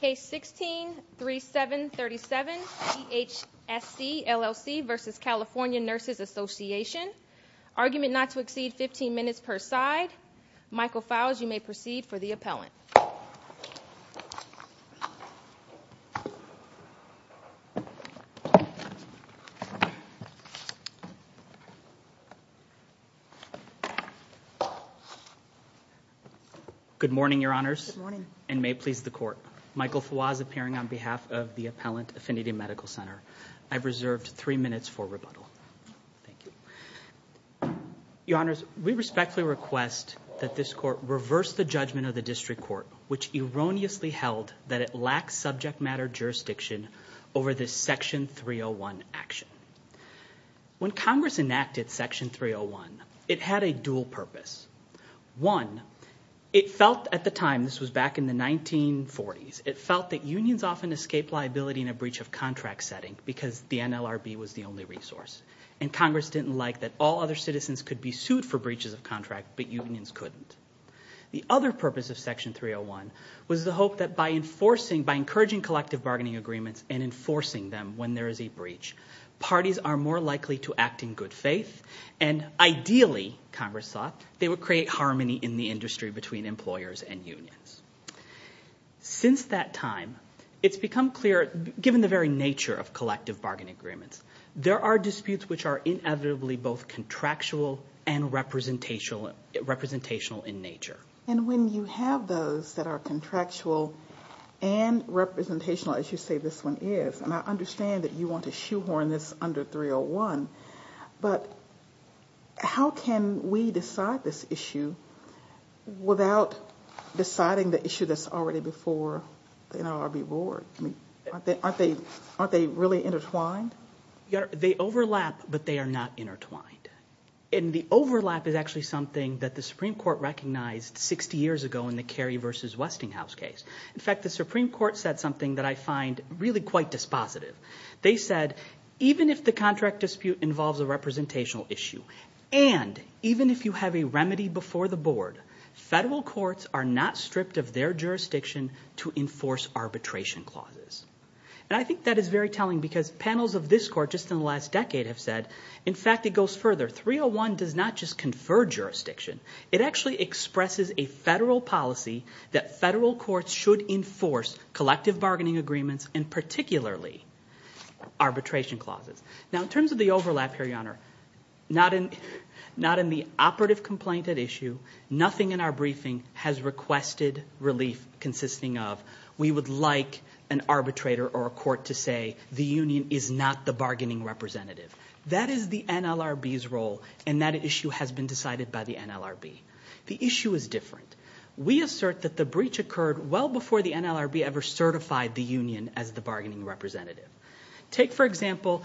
Case 16-3737, DHSC LLC v. California Nurses Association. Argument not to exceed 15 minutes per side. Michael Files, you may proceed for the appellant. Good morning, Your Honors, and may it please the Court. Michael Files, appearing on behalf of the Appellant Affinity Medical Center. I've reserved three minutes for rebuttal. Your Honors, we respectfully request that this Court reverse the judgment of the District Court, which erroneously held that it lacks subject matter jurisdiction over this Section 301 action. When Congress enacted Section 301, it had a dual purpose. One, it felt at the time, this was back in the 1940s, it felt that unions often escaped liability in a breach of contract setting because the NLRB was the only resource, and Congress didn't like that all other citizens could be sued for breaches of contract, but unions couldn't. The other purpose of Section 301 was the hope that by enforcing, by encouraging collective bargaining agreements and enforcing them when there is a breach, parties are more likely to act in good faith, and ideally, Congress thought, they would create harmony in the industry between employers and unions. Since that time, it's become clear, given the very nature of collective bargaining agreements, there are disputes which are inevitably both contractual and representational in nature. And when you have those that are contractual and representational, as you say this one is, and I understand that you want to shoehorn this under 301, but how can we decide this issue without deciding the issue that's already before the NLRB board? Aren't they really intertwined? They overlap, but they are not intertwined. And the overlap is actually something that the Supreme Court recognized 60 years ago in the Kerry v. Westinghouse case. In fact, the Supreme Court said something that I find really quite dispositive. They said, even if the contract dispute involves a representational issue, and even if you have a remedy before the board, federal courts are not stripped of their jurisdiction to enforce arbitration clauses. And I think that is very telling because panels of this court just in the last decade have said, in fact, it goes further. 301 does not just confer jurisdiction. It actually expresses a federal policy that federal courts should enforce collective bargaining agreements, and particularly arbitration clauses. Now, in terms of the overlap here, Your Honor, not in the operative complaint at issue, nothing in our briefing has requested relief consisting of, we would like an arbitrator or a court to say the union is not the bargaining representative. That is the NLRB's role, and that issue has been decided by the NLRB. The issue is different. We assert that the breach occurred well before the NLRB ever certified the union as the bargaining representative. Take, for example,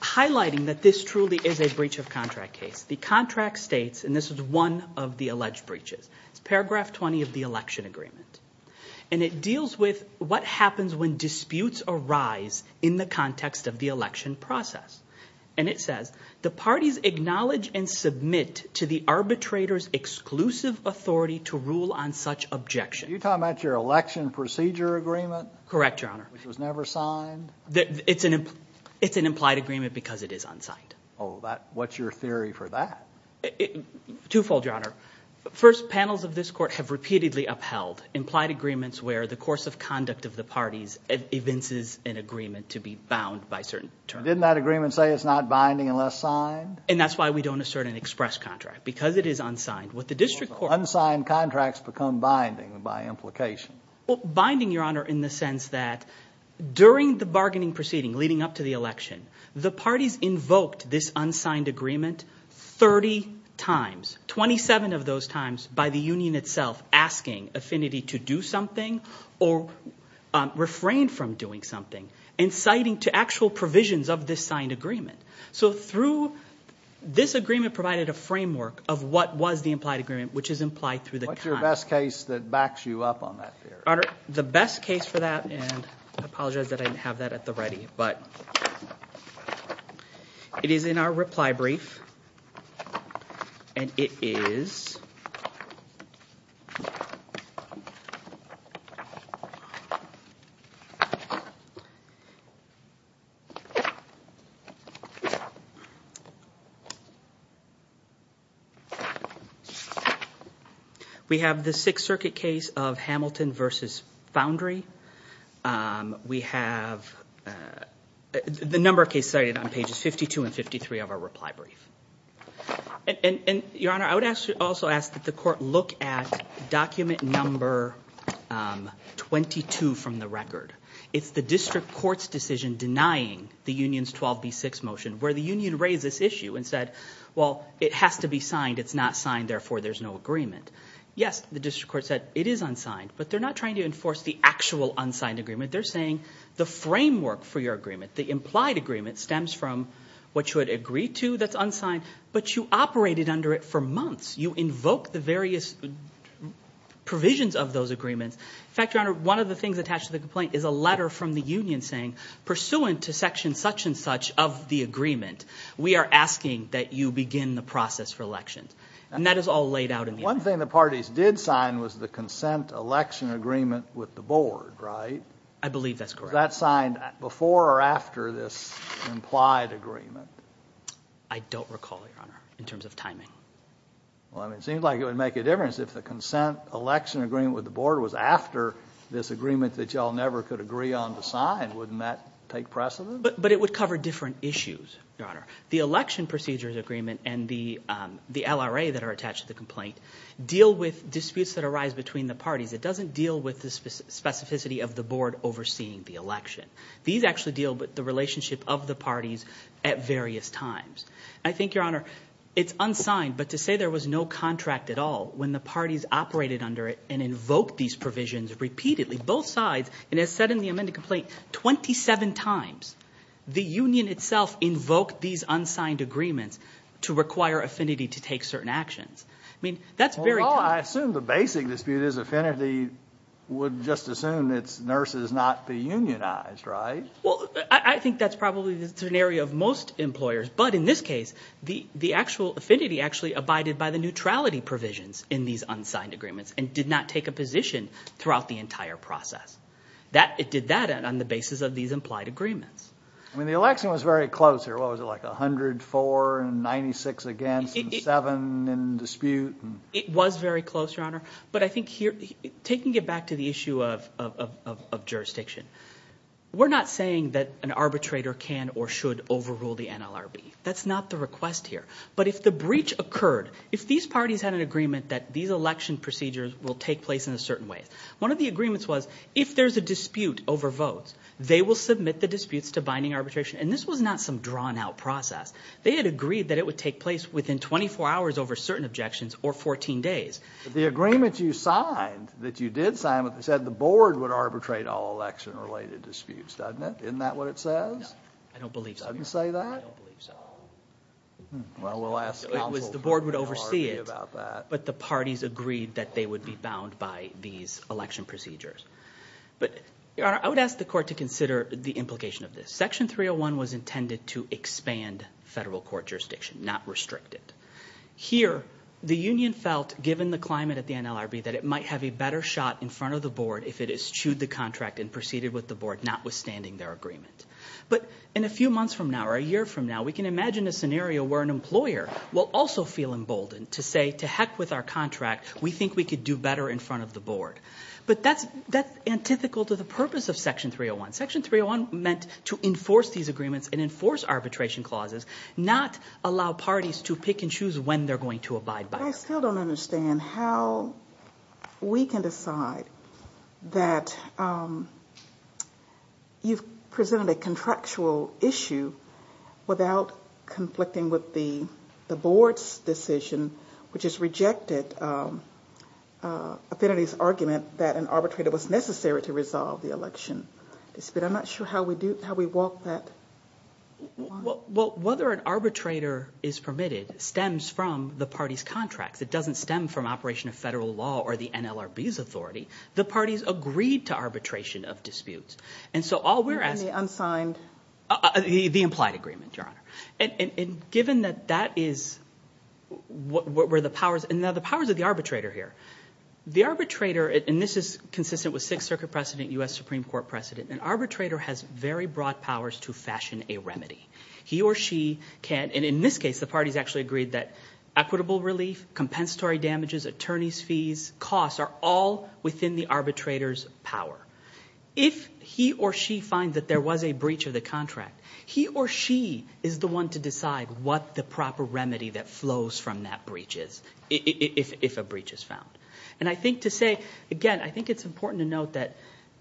highlighting that this truly is a breach of contract case. The contract states, and this is one of the alleged breaches, it's paragraph 20 of the election agreement, and it deals with what happens when disputes arise in the context of the election process. And it says, the parties acknowledge and submit to the arbitrator's exclusive authority to rule on such objection. Are you talking about your election procedure agreement? Correct, Your Honor. Which was never signed? It's an implied agreement because it is unsigned. Oh, what's your theory for that? Twofold, Your Honor. First, panels of this court have repeatedly upheld implied agreements where the course of conduct of the parties evinces an agreement to be bound by certain terms. But didn't that agreement say it's not binding unless signed? And that's why we don't assert an express contract, because it is unsigned. With the district court. Unsigned contracts become binding by implication. Well, binding, Your Honor, in the sense that during the bargaining proceeding leading up to the election, the parties invoked this unsigned agreement 30 times, 27 of those times, by the union itself asking affinity to do something or refrain from doing something and citing to actual provisions of this signed agreement. So through this agreement provided a framework of what was the implied agreement, which is implied through the conduct. What's your best case that backs you up on that theory? The best case for that, and I apologize that I didn't have that at the ready, but it is in our reply brief, and it is. We have the Sixth Circuit case of Hamilton v. Foundry. We have the number of cases cited on pages 52 and 53 of our reply brief. And, Your Honor, I would also ask that the court look at document number 22 from the record. It's the district court's decision denying the union's 12B6 motion, where the union raised this issue and said, well, it has to be signed. It's not signed, therefore there's no agreement. Yes, the district court said it is unsigned, but they're not trying to enforce the actual unsigned agreement. They're saying the framework for your agreement, the implied agreement, stems from what you had agreed to that's unsigned, but you operated under it for months. You invoke the various provisions of those agreements. In fact, Your Honor, one of the things attached to the complaint is a letter from the union saying, pursuant to section such and such of the agreement, we are asking that you begin the process for elections. And that is all laid out in the agreement. The other thing the parties did sign was the consent election agreement with the board, right? I believe that's correct. Was that signed before or after this implied agreement? I don't recall, Your Honor, in terms of timing. Well, it seems like it would make a difference if the consent election agreement with the board was after this agreement that you all never could agree on to sign. Wouldn't that take precedent? But it would cover different issues, Your Honor. The election procedures agreement and the LRA that are attached to the complaint deal with disputes that arise between the parties. It doesn't deal with the specificity of the board overseeing the election. These actually deal with the relationship of the parties at various times. I think, Your Honor, it's unsigned, but to say there was no contract at all when the parties operated under it and invoked these provisions repeatedly, both sides, it has said in the amended complaint 27 times the union itself invoked these unsigned agreements to require affinity to take certain actions. I mean, that's very tough. Well, I assume the basic dispute is affinity would just assume it's nurses not be unionized, right? Well, I think that's probably the scenario of most employers. But in this case, the actual affinity actually abided by the neutrality provisions in these unsigned agreements and did not take a position throughout the entire process. It did that on the basis of these implied agreements. I mean, the election was very close here. What was it, like 104 and 96 against and seven in dispute? It was very close, Your Honor. But I think taking it back to the issue of jurisdiction, we're not saying that an arbitrator can or should overrule the NLRB. That's not the request here. But if the breach occurred, if these parties had an agreement that these election procedures will take place in a certain way, one of the agreements was if there's a dispute over votes, they will submit the disputes to binding arbitration. And this was not some drawn-out process. They had agreed that it would take place within 24 hours over certain objections or 14 days. The agreement you signed, that you did sign, said the board would arbitrate all election-related disputes, doesn't it? Isn't that what it says? No, I don't believe so, Your Honor. It doesn't say that? I don't believe so. Well, we'll ask counsel from the NLRB about that. The board would oversee it, but the parties agreed that they would be bound by these election procedures. But, Your Honor, I would ask the court to consider the implication of this. Section 301 was intended to expand federal court jurisdiction, not restrict it. Here, the union felt, given the climate at the NLRB, that it might have a better shot in front of the board if it eschewed the contract and proceeded with the board, notwithstanding their agreement. But in a few months from now or a year from now, we can imagine a scenario where an employer will also feel emboldened to say, to heck with our contract, we think we could do better in front of the board. But that's antithetical to the purpose of Section 301. Section 301 meant to enforce these agreements and enforce arbitration clauses, not allow parties to pick and choose when they're going to abide by them. I still don't understand how we can decide that you've presented a contractual issue without conflicting with the board's decision, which has rejected Affinity's argument that an arbitrator was necessary to resolve the election. I'm not sure how we walk that line. Well, whether an arbitrator is permitted stems from the party's contracts. It doesn't stem from operation of federal law or the NLRB's authority. The parties agreed to arbitration of disputes. And so all we're asking— Any unsigned— The implied agreement, Your Honor. And given that that is what were the powers, and now the powers of the arbitrator here. The arbitrator, and this is consistent with Sixth Circuit precedent, U.S. Supreme Court precedent, an arbitrator has very broad powers to fashion a remedy. He or she can, and in this case the parties actually agreed that equitable relief, compensatory damages, attorney's fees, costs are all within the arbitrator's power. If he or she finds that there was a breach of the contract, he or she is the one to decide what the proper remedy that flows from that breach is, if a breach is found. And I think to say, again, I think it's important to note that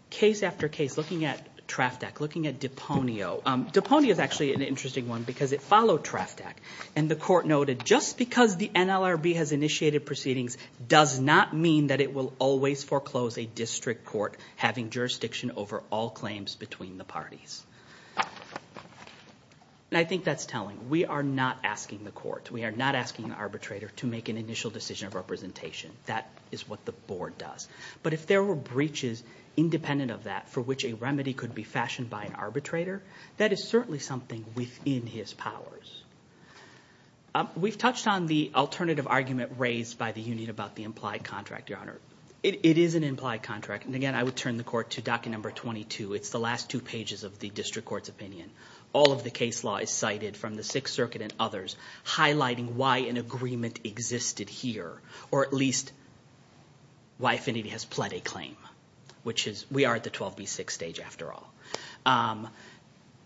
case after case, looking at TRAFTAC, looking at Deponio, Deponio is actually an interesting one because it followed TRAFTAC. And the court noted just because the NLRB has initiated proceedings does not mean that it will always foreclose a district court having jurisdiction over all claims between the parties. And I think that's telling. We are not asking the court. We are not asking the arbitrator to make an initial decision of representation. That is what the board does. But if there were breaches independent of that for which a remedy could be fashioned by an arbitrator, that is certainly something within his powers. We've touched on the alternative argument raised by the union about the implied contract, Your Honor. It is an implied contract. And, again, I would turn the court to docket number 22. It's the last two pages of the district court's opinion. All of the case law is cited from the Sixth Circuit and others, highlighting why an agreement existed here or at least why Affinity has pled a claim, which is we are at the 12B6 stage after all.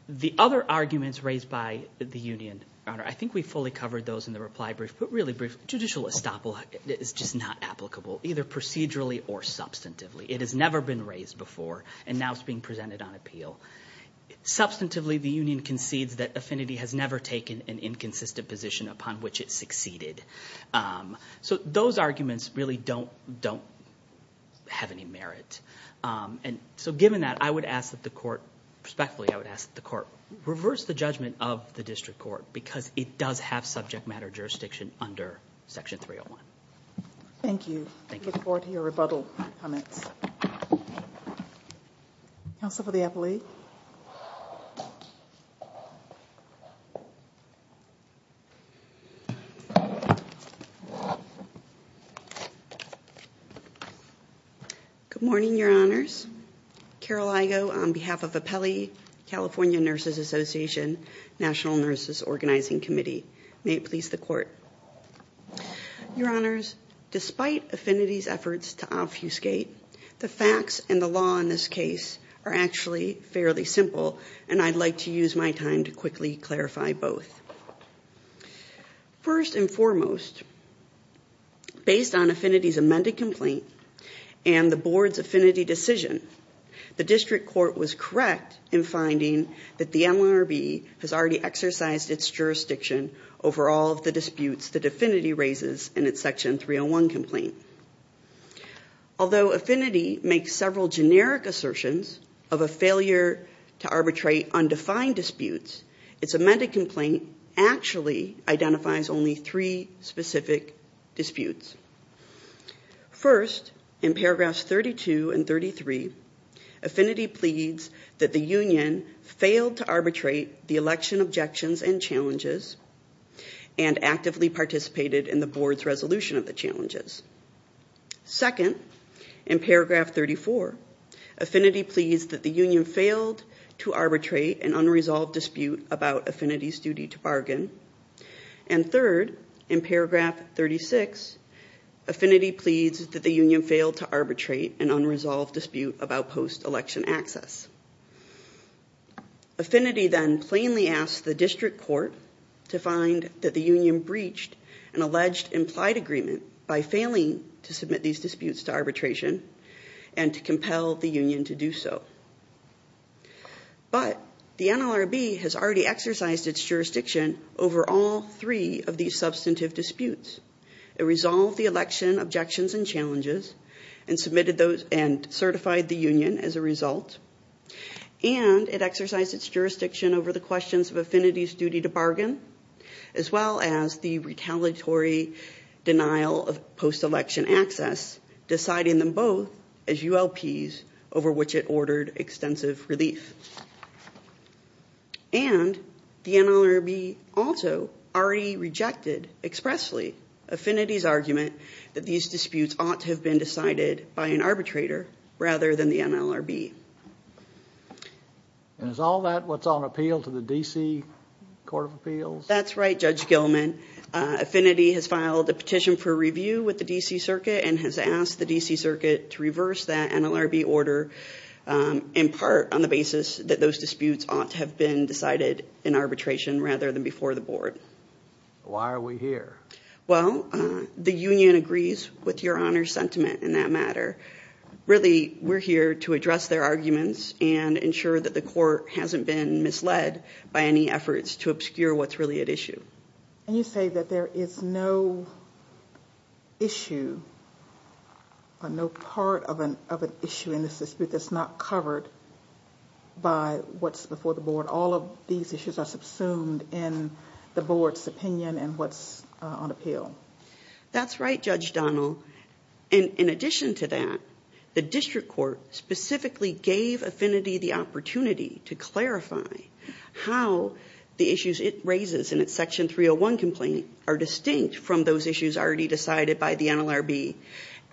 The other arguments raised by the union, Your Honor, I think we fully covered those in the reply brief, but really, judicial estoppel is just not applicable, either procedurally or substantively. It has never been raised before, and now it's being presented on appeal. Substantively, the union concedes that Affinity has never taken an inconsistent position upon which it succeeded. So those arguments really don't have any merit. And so given that, I would ask that the court, respectfully, I would ask that the court reverse the judgment of the district court because it does have subject matter jurisdiction under Section 301. Thank you. I look forward to your rebuttal comments. Counsel for the appellee. Good morning, Your Honors. Carol Igo on behalf of the Pelley California Nurses Association National Nurses Organizing Committee. May it please the court. Your Honors, despite Affinity's efforts to obfuscate, the facts and the law in this case are actually fairly simple, and I'd like to use my time to quickly clarify both. First and foremost, based on Affinity's amended complaint and the board's Affinity decision, the district court was correct in finding that the NLRB has already exercised its jurisdiction over all of the disputes that Affinity raises in its Section 301 complaint. Although Affinity makes several generic assertions of a failure to arbitrate undefined disputes, its amended complaint actually identifies only three specific disputes. First, in paragraphs 32 and 33, Affinity pleads that the union failed to arbitrate the election objections and challenges and actively participated in the board's resolution of the challenges. Second, in paragraph 34, Affinity pleads that the union failed to arbitrate an unresolved dispute about Affinity's duty to bargain. And third, in paragraph 36, Affinity pleads that the union failed to arbitrate an unresolved dispute about post-election access. Affinity then plainly asks the district court to find that the union breached an alleged implied agreement by failing to submit these disputes to arbitration and to compel the union to do so. But the NLRB has already exercised its jurisdiction over all three of these substantive disputes. It resolved the election objections and challenges and certified the union as a result. And it exercised its jurisdiction over the questions of Affinity's duty to bargain, as well as the retaliatory denial of post-election access, deciding them both as ULPs over which it ordered extensive relief. And the NLRB also already rejected expressly Affinity's argument that these disputes ought to have been decided by an arbitrator rather than the NLRB. Is all that what's on appeal to the D.C. Court of Appeals? That's right, Judge Gilman. Affinity has filed a petition for review with the D.C. Circuit and has asked the D.C. Circuit to reverse that NLRB order, in part on the basis that those disputes ought to have been decided in arbitration rather than before the board. Why are we here? Well, the union agrees with Your Honor's sentiment in that matter. Really, we're here to address their arguments and ensure that the court hasn't been misled by any efforts to obscure what's really at issue. And you say that there is no issue or no part of an issue in this dispute that's not covered by what's before the board. All of these issues are subsumed in the board's opinion and what's on appeal. That's right, Judge Donnell. In addition to that, the district court specifically gave Affinity the opportunity to clarify how the issues it raises in its Section 301 complaint are distinct from those issues already decided by the NLRB.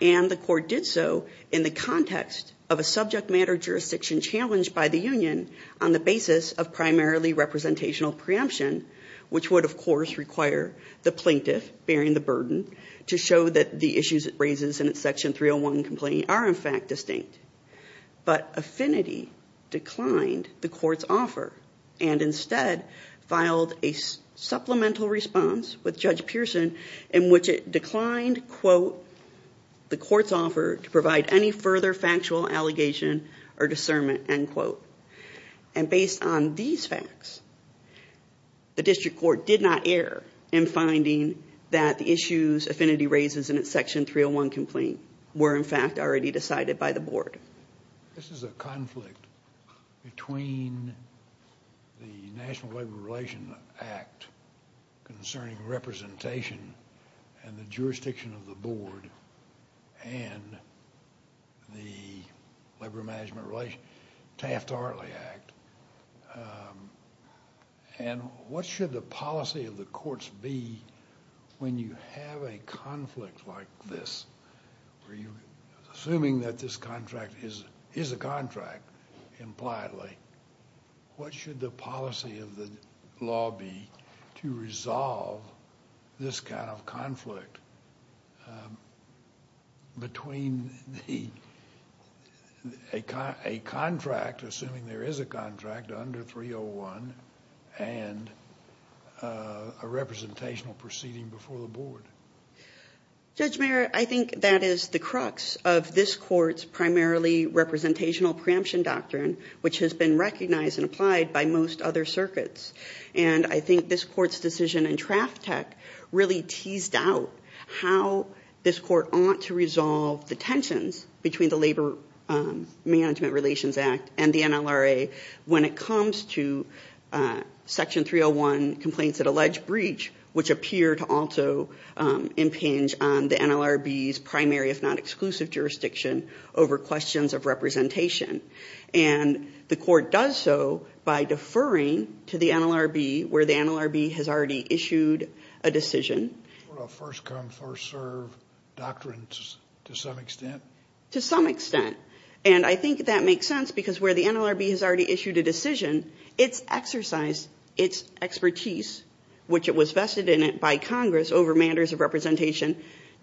And the court did so in the context of a subject matter jurisdiction challenged by the union on the basis of primarily representational preemption, which would, of course, require the plaintiff bearing the burden to show that the issues it raises in its Section 301 complaint are, in fact, distinct. But Affinity declined the court's offer and instead filed a supplemental response with Judge Pearson in which it declined, quote, the court's offer to provide any further factual allegation or discernment, end quote. And based on these facts, the district court did not err in finding that the issues Affinity raises in its Section 301 complaint were, in fact, already decided by the board. This is a conflict between the National Labor Relations Act concerning representation and the jurisdiction of the board and the Taft-Hartley Act. And what should the policy of the courts be when you have a conflict like this? Assuming that this contract is a contract, impliedly, what should the policy of the law be to resolve this kind of conflict between a contract, assuming there is a contract, under 301 and a representational proceeding before the board? Judge Mayer, I think that is the crux of this court's primarily representational preemption doctrine, which has been recognized and applied by most other circuits. And I think this court's decision in Traftec really teased out how this court ought to resolve the tensions between the Labor Management Relations Act and the NLRA when it comes to Section 301 complaints that allege breach, which appear to also impinge on the NLRB's primary, if not exclusive, jurisdiction over questions of representation. And the court does so by deferring to the NLRB where the NLRB has already issued a decision. First come, first serve doctrine to some extent? To some extent. And I think that makes sense because where the NLRB has already issued a decision, it's exercised its expertise, which it was vested in by Congress over matters of representation,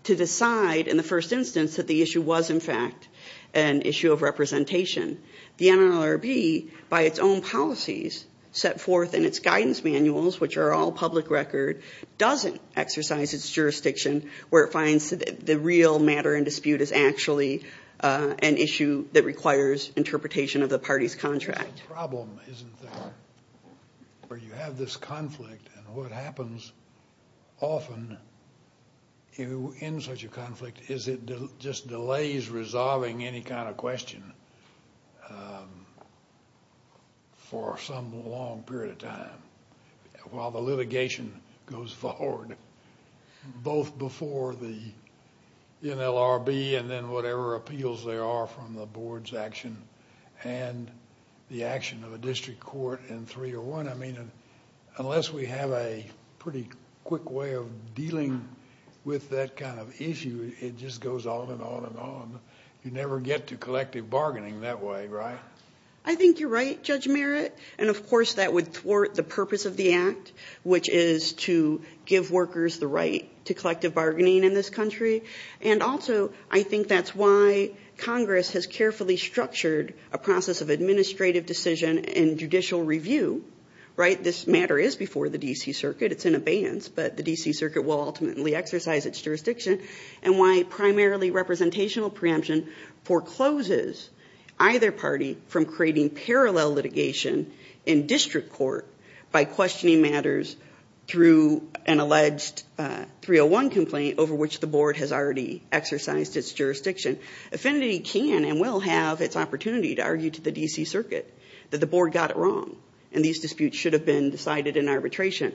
to decide in the first instance that the issue was, in fact, an issue of representation. The NLRB, by its own policies set forth in its guidance manuals, which are all public record, doesn't exercise its jurisdiction where it finds the real matter in dispute is actually an issue that requires interpretation of the party's contract. It's a problem, isn't there, where you have this conflict. And what happens often in such a conflict is it just delays resolving any kind of question for some long period of time while the litigation goes forward, both before the NLRB and then whatever appeals there are from the board's action and the action of a district court in three or one. I mean, unless we have a pretty quick way of dealing with that kind of issue, it just goes on and on and on. You never get to collective bargaining that way, right? I think you're right, Judge Merritt. And, of course, that would thwart the purpose of the Act, which is to give workers the right to collective bargaining in this country. And also I think that's why Congress has carefully structured a process of administrative decision and judicial review, right? This matter is before the D.C. Circuit. It's in abeyance, but the D.C. Circuit will ultimately exercise its jurisdiction. And why primarily representational preemption forecloses either party from creating parallel litigation in district court by questioning matters through an alleged 301 complaint over which the board has already exercised its jurisdiction. Affinity can and will have its opportunity to argue to the D.C. Circuit that the board got it wrong and these disputes should have been decided in arbitration.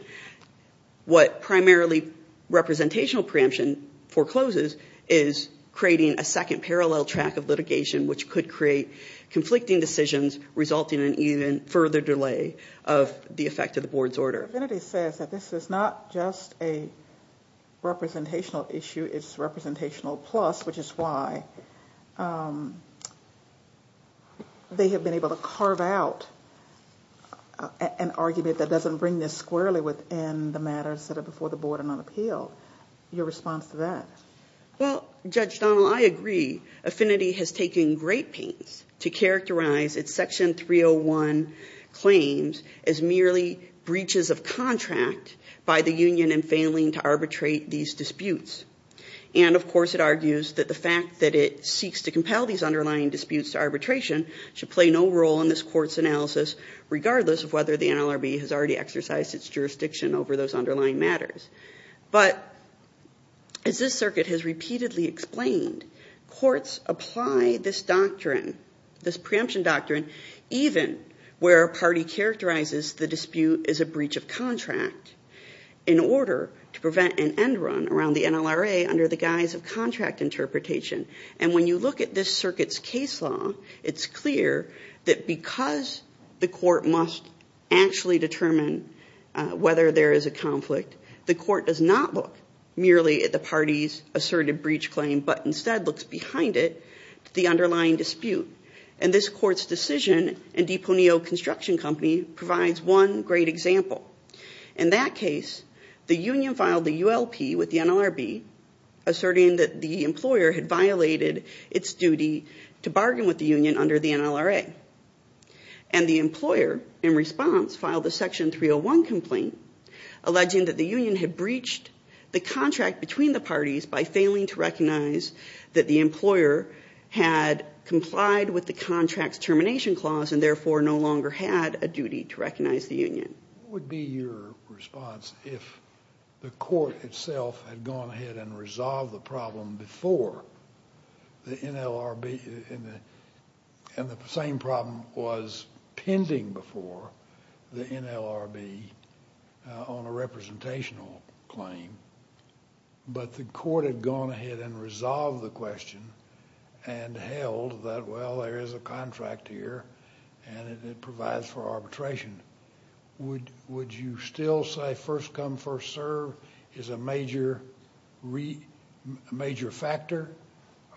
What primarily representational preemption forecloses is creating a second parallel track of litigation which could create conflicting decisions resulting in even further delay of the effect of the board's order. Affinity says that this is not just a representational issue, it's representational plus, which is why they have been able to carve out an argument that doesn't bring this squarely within the matters that are before the board and on appeal. Your response to that? Well, Judge Donnell, I agree. Affinity has taken great pains to characterize its Section 301 claims as merely breaches of contract by the union in failing to arbitrate these disputes. And, of course, it argues that the fact that it seeks to compel these underlying disputes to arbitration should play no role in this court's analysis regardless of whether the NLRB has already exercised its jurisdiction over those underlying matters. But, as this circuit has repeatedly explained, courts apply this doctrine, this preemption doctrine, even where a party characterizes the dispute as a breach of contract, in order to prevent an end run around the NLRA under the guise of contract interpretation. And when you look at this circuit's case law, it's clear that because the court must actually determine whether there is a conflict, the court does not look merely at the party's asserted breach claim but instead looks behind it to the underlying dispute. And this court's decision in DiPoneo Construction Company provides one great example. In that case, the union filed the ULP with the NLRB, asserting that the employer had violated its duty to bargain with the union under the NLRA. And the employer, in response, filed a Section 301 complaint, alleging that the union had breached the contract between the parties by failing to recognize that the employer had complied with the contract's termination clause and therefore no longer had a duty to recognize the union. What would be your response if the court itself had gone ahead and resolved the problem before the NLRB, and the same problem was pending before the NLRB on a representational claim, but the court had gone ahead and resolved the question and held that, well, there is a contract here Would you still say first come, first serve is a major factor,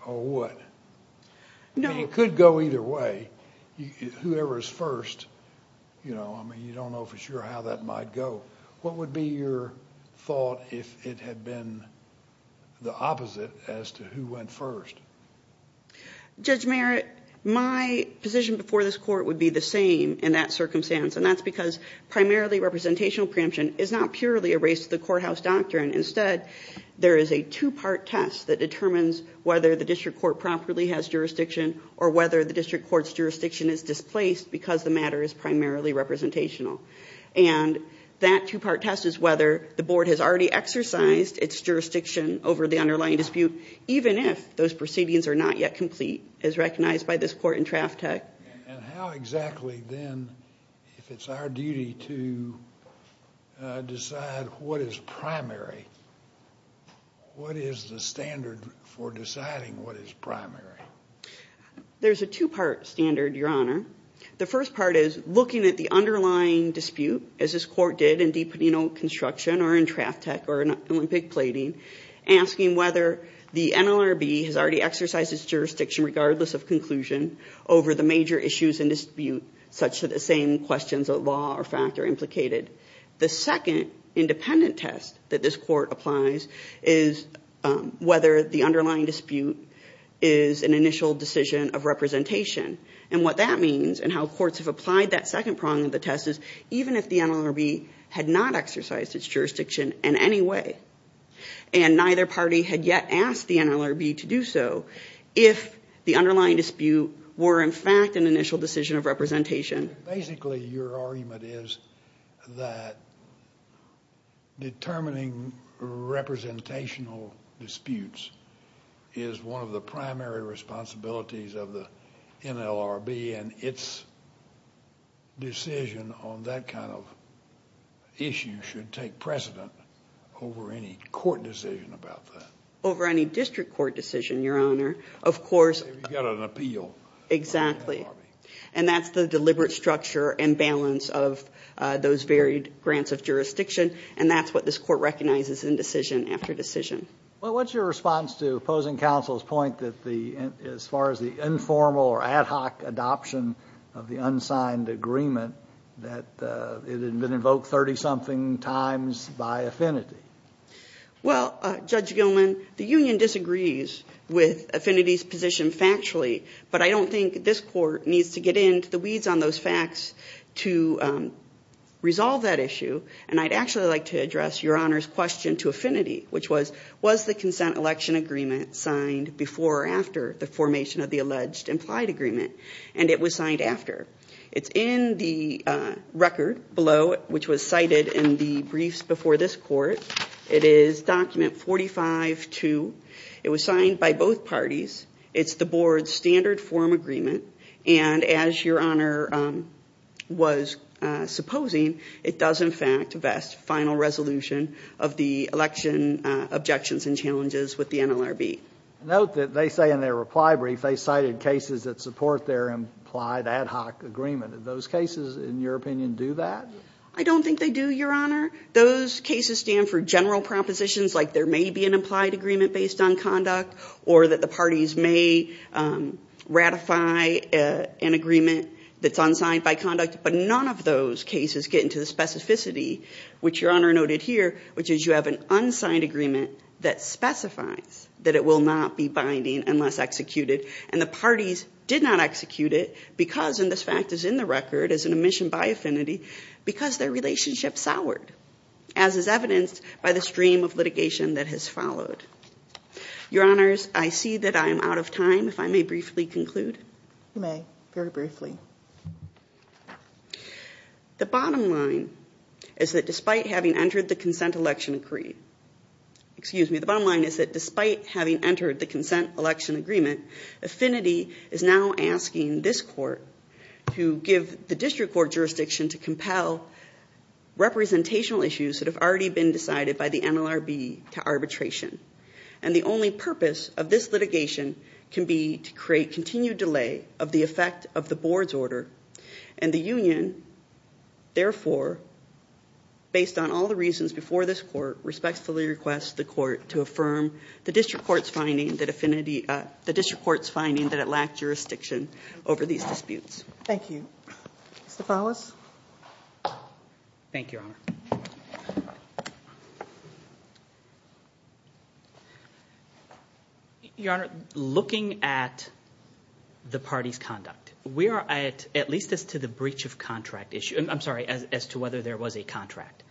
or what? It could go either way. Whoever is first, you don't know for sure how that might go. What would be your thought if it had been the opposite as to who went first? Judge Merritt, my position before this court would be the same in that circumstance, and that's because primarily representational preemption is not purely a race to the courthouse doctrine. Instead, there is a two-part test that determines whether the district court properly has jurisdiction or whether the district court's jurisdiction is displaced because the matter is primarily representational. And that two-part test is whether the board has already exercised its jurisdiction over the underlying dispute, even if those proceedings are not yet complete, as recognized by this court in Traftec. And how exactly, then, if it's our duty to decide what is primary, what is the standard for deciding what is primary? There's a two-part standard, Your Honor. The first part is looking at the underlying dispute, as this court did in DiPadeno Construction or in Traftec or in Olympic Plating, asking whether the NLRB has already exercised its jurisdiction, regardless of conclusion, over the major issues in dispute, such that the same questions of law or fact are implicated. The second independent test that this court applies is whether the underlying dispute is an initial decision of representation. And what that means and how courts have applied that second prong of the test is even if the NLRB had not exercised its jurisdiction in any way and neither party had yet asked the NLRB to do so, if the underlying dispute were, in fact, an initial decision of representation. Basically, your argument is that determining representational disputes is one of the primary responsibilities of the NLRB and its decision on that kind of issue should take precedent over any court decision about that. Over any district court decision, Your Honor. If you've got an appeal. Exactly. And that's the deliberate structure and balance of those varied grants of jurisdiction, and that's what this court recognizes in decision after decision. Well, what's your response to opposing counsel's point that as far as the informal or ad hoc adoption of the unsigned agreement, that it had been invoked 30-something times by affinity? Well, Judge Gilman, the union disagrees with affinity's position factually, but I don't think this court needs to get into the weeds on those facts to resolve that issue. And I'd actually like to address Your Honor's question to affinity, which was, was the consent election agreement signed before or after the formation of the alleged implied agreement? And it was signed after. It's in the record below, which was cited in the briefs before this court. It is document 45-2. It was signed by both parties. It's the board's standard form agreement. And as Your Honor was supposing, it does, in fact, vest final resolution of the election objections and challenges with the NLRB. Note that they say in their reply brief they cited cases that support their implied ad hoc agreement. Do those cases, in your opinion, do that? I don't think they do, Your Honor. Those cases stand for general propositions like there may be an implied agreement based on conduct or that the parties may ratify an agreement that's unsigned by conduct. But none of those cases get into the specificity, which Your Honor noted here, which is you have an unsigned agreement that specifies that it will not be binding unless executed. And the parties did not execute it because, and this fact is in the record as an omission by affinity, because their relationship soured, as is evidenced by the stream of litigation that has followed. Your Honors, I see that I am out of time. If I may briefly conclude. You may, very briefly. The bottom line is that despite having entered the consent election agreement, excuse me, the bottom line is that despite having entered the consent election agreement, affinity is now asking this court to give the district court jurisdiction to compel representational issues that have already been decided by the NLRB to arbitration. And the only purpose of this litigation can be to create continued delay of the effect of the board's order. And the union, therefore, based on all the reasons before this court, respectfully requests the court to affirm the district court's finding that affinity, the district court's finding that it lacked jurisdiction over these disputes. Thank you. Mr. Follis? Thank you, Your Honor. Your Honor, looking at the party's conduct, we are at least as to the breach of contract issue, I'm sorry, as to whether there was a contract.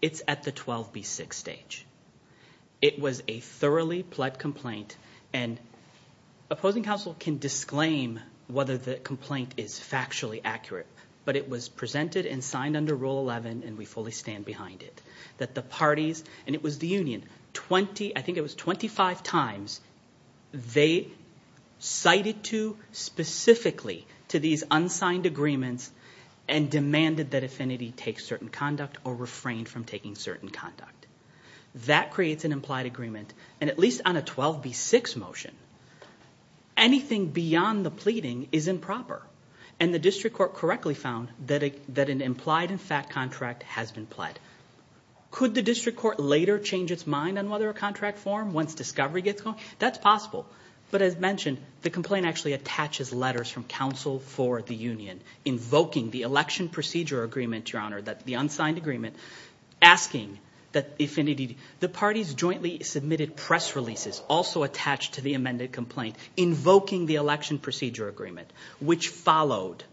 It's at the 12B6 stage. It was a thoroughly pled complaint, and opposing counsel can disclaim whether the complaint is factually accurate, but it was presented and signed under Rule 11, and we fully stand behind it. That the parties, and it was the union, I think it was 25 times, they cited to specifically to these unsigned agreements and demanded that affinity take certain conduct or refrain from taking certain conduct. That creates an implied agreement, and at least on a 12B6 motion, anything beyond the pleading is improper. And the district court correctly found that an implied and fact contract has been pled. Could the district court later change its mind on whether a contract form, once discovery gets going? That's possible. But as mentioned, the complaint actually attaches letters from counsel for the union, invoking the election procedure agreement, Your Honor, the unsigned agreement, asking that affinity, the parties jointly submitted press releases also attached to the amended complaint, invoking the election procedure agreement, which followed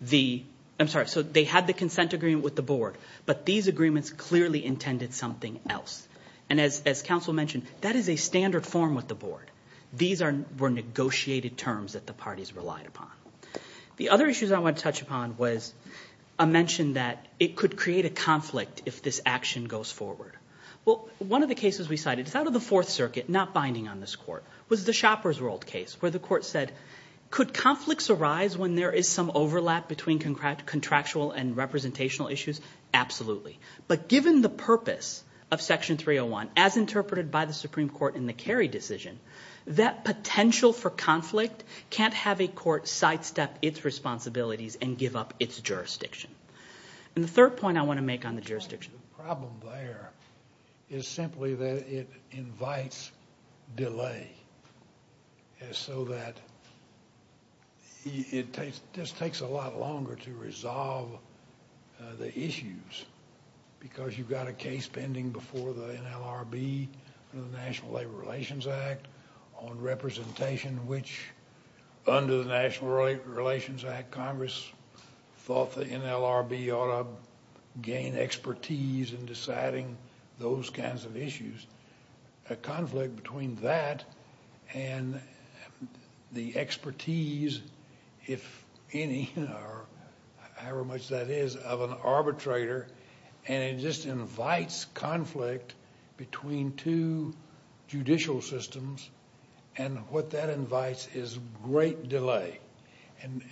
the, I'm sorry, so they had the consent agreement with the board, but these agreements clearly intended something else. And as counsel mentioned, that is a standard form with the board. These were negotiated terms that the parties relied upon. The other issues I want to touch upon was a mention that it could create a conflict if this action goes forward. Well, one of the cases we cited, it's out of the Fourth Circuit, not binding on this court, was the Shopper's World case where the court said, could conflicts arise when there is some overlap between contractual and representational issues? Absolutely. But given the purpose of Section 301, as interpreted by the Supreme Court in the Kerry decision, that potential for conflict can't have a court sidestep its responsibilities and give up its jurisdiction. And the third point I want to make on the jurisdiction. The problem there is simply that it invites delay, so that it just takes a lot longer to resolve the issues because you've got a case pending before the NLRB under the National Labor Relations Act on representation, which under the National Labor Relations Act, Congress thought the NLRB ought to gain expertise in deciding those kinds of issues. A conflict between that and the expertise, if any, however much that is, of an arbitrator, and it just invites conflict between two judicial systems. And what that invites is great delay.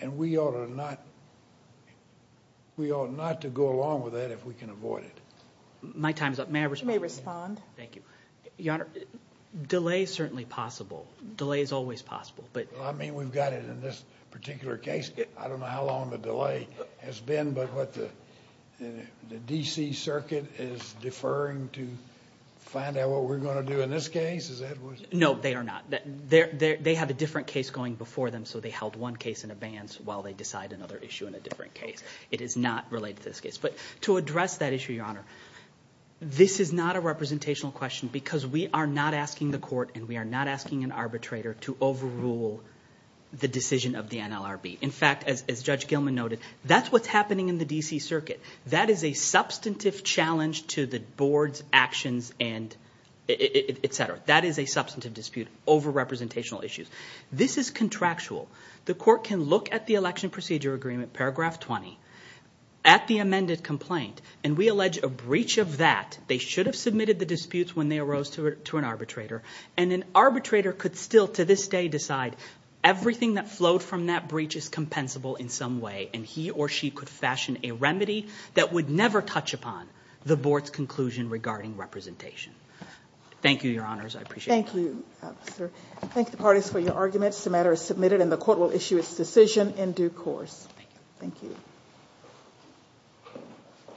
And we ought not to go along with that if we can avoid it. My time is up. May I respond? You may respond. Thank you. Your Honor, delay is certainly possible. Delay is always possible. I mean, we've got it in this particular case. I don't know how long the delay has been, but what the D.C. Circuit is deferring to find out what we're going to do in this case? No, they are not. They have a different case going before them, so they held one case in advance while they decide another issue in a different case. It is not related to this case. But to address that issue, Your Honor, this is not a representational question because we are not asking the court and we are not asking an arbitrator to overrule the decision of the NLRB. In fact, as Judge Gilman noted, that's what's happening in the D.C. Circuit. That is a substantive challenge to the board's actions, et cetera. That is a substantive dispute over representational issues. This is contractual. The court can look at the election procedure agreement, paragraph 20, at the amended complaint, and we allege a breach of that. They should have submitted the disputes when they arose to an arbitrator. And an arbitrator could still to this day decide everything that flowed from that breach is compensable in some way, and he or she could fashion a remedy that would never touch upon the board's conclusion regarding representation. Thank you, Your Honors. I appreciate it. Thank you, sir. I thank the parties for your arguments. The matter is submitted and the court will issue its decision in due course. Thank you. Thank you.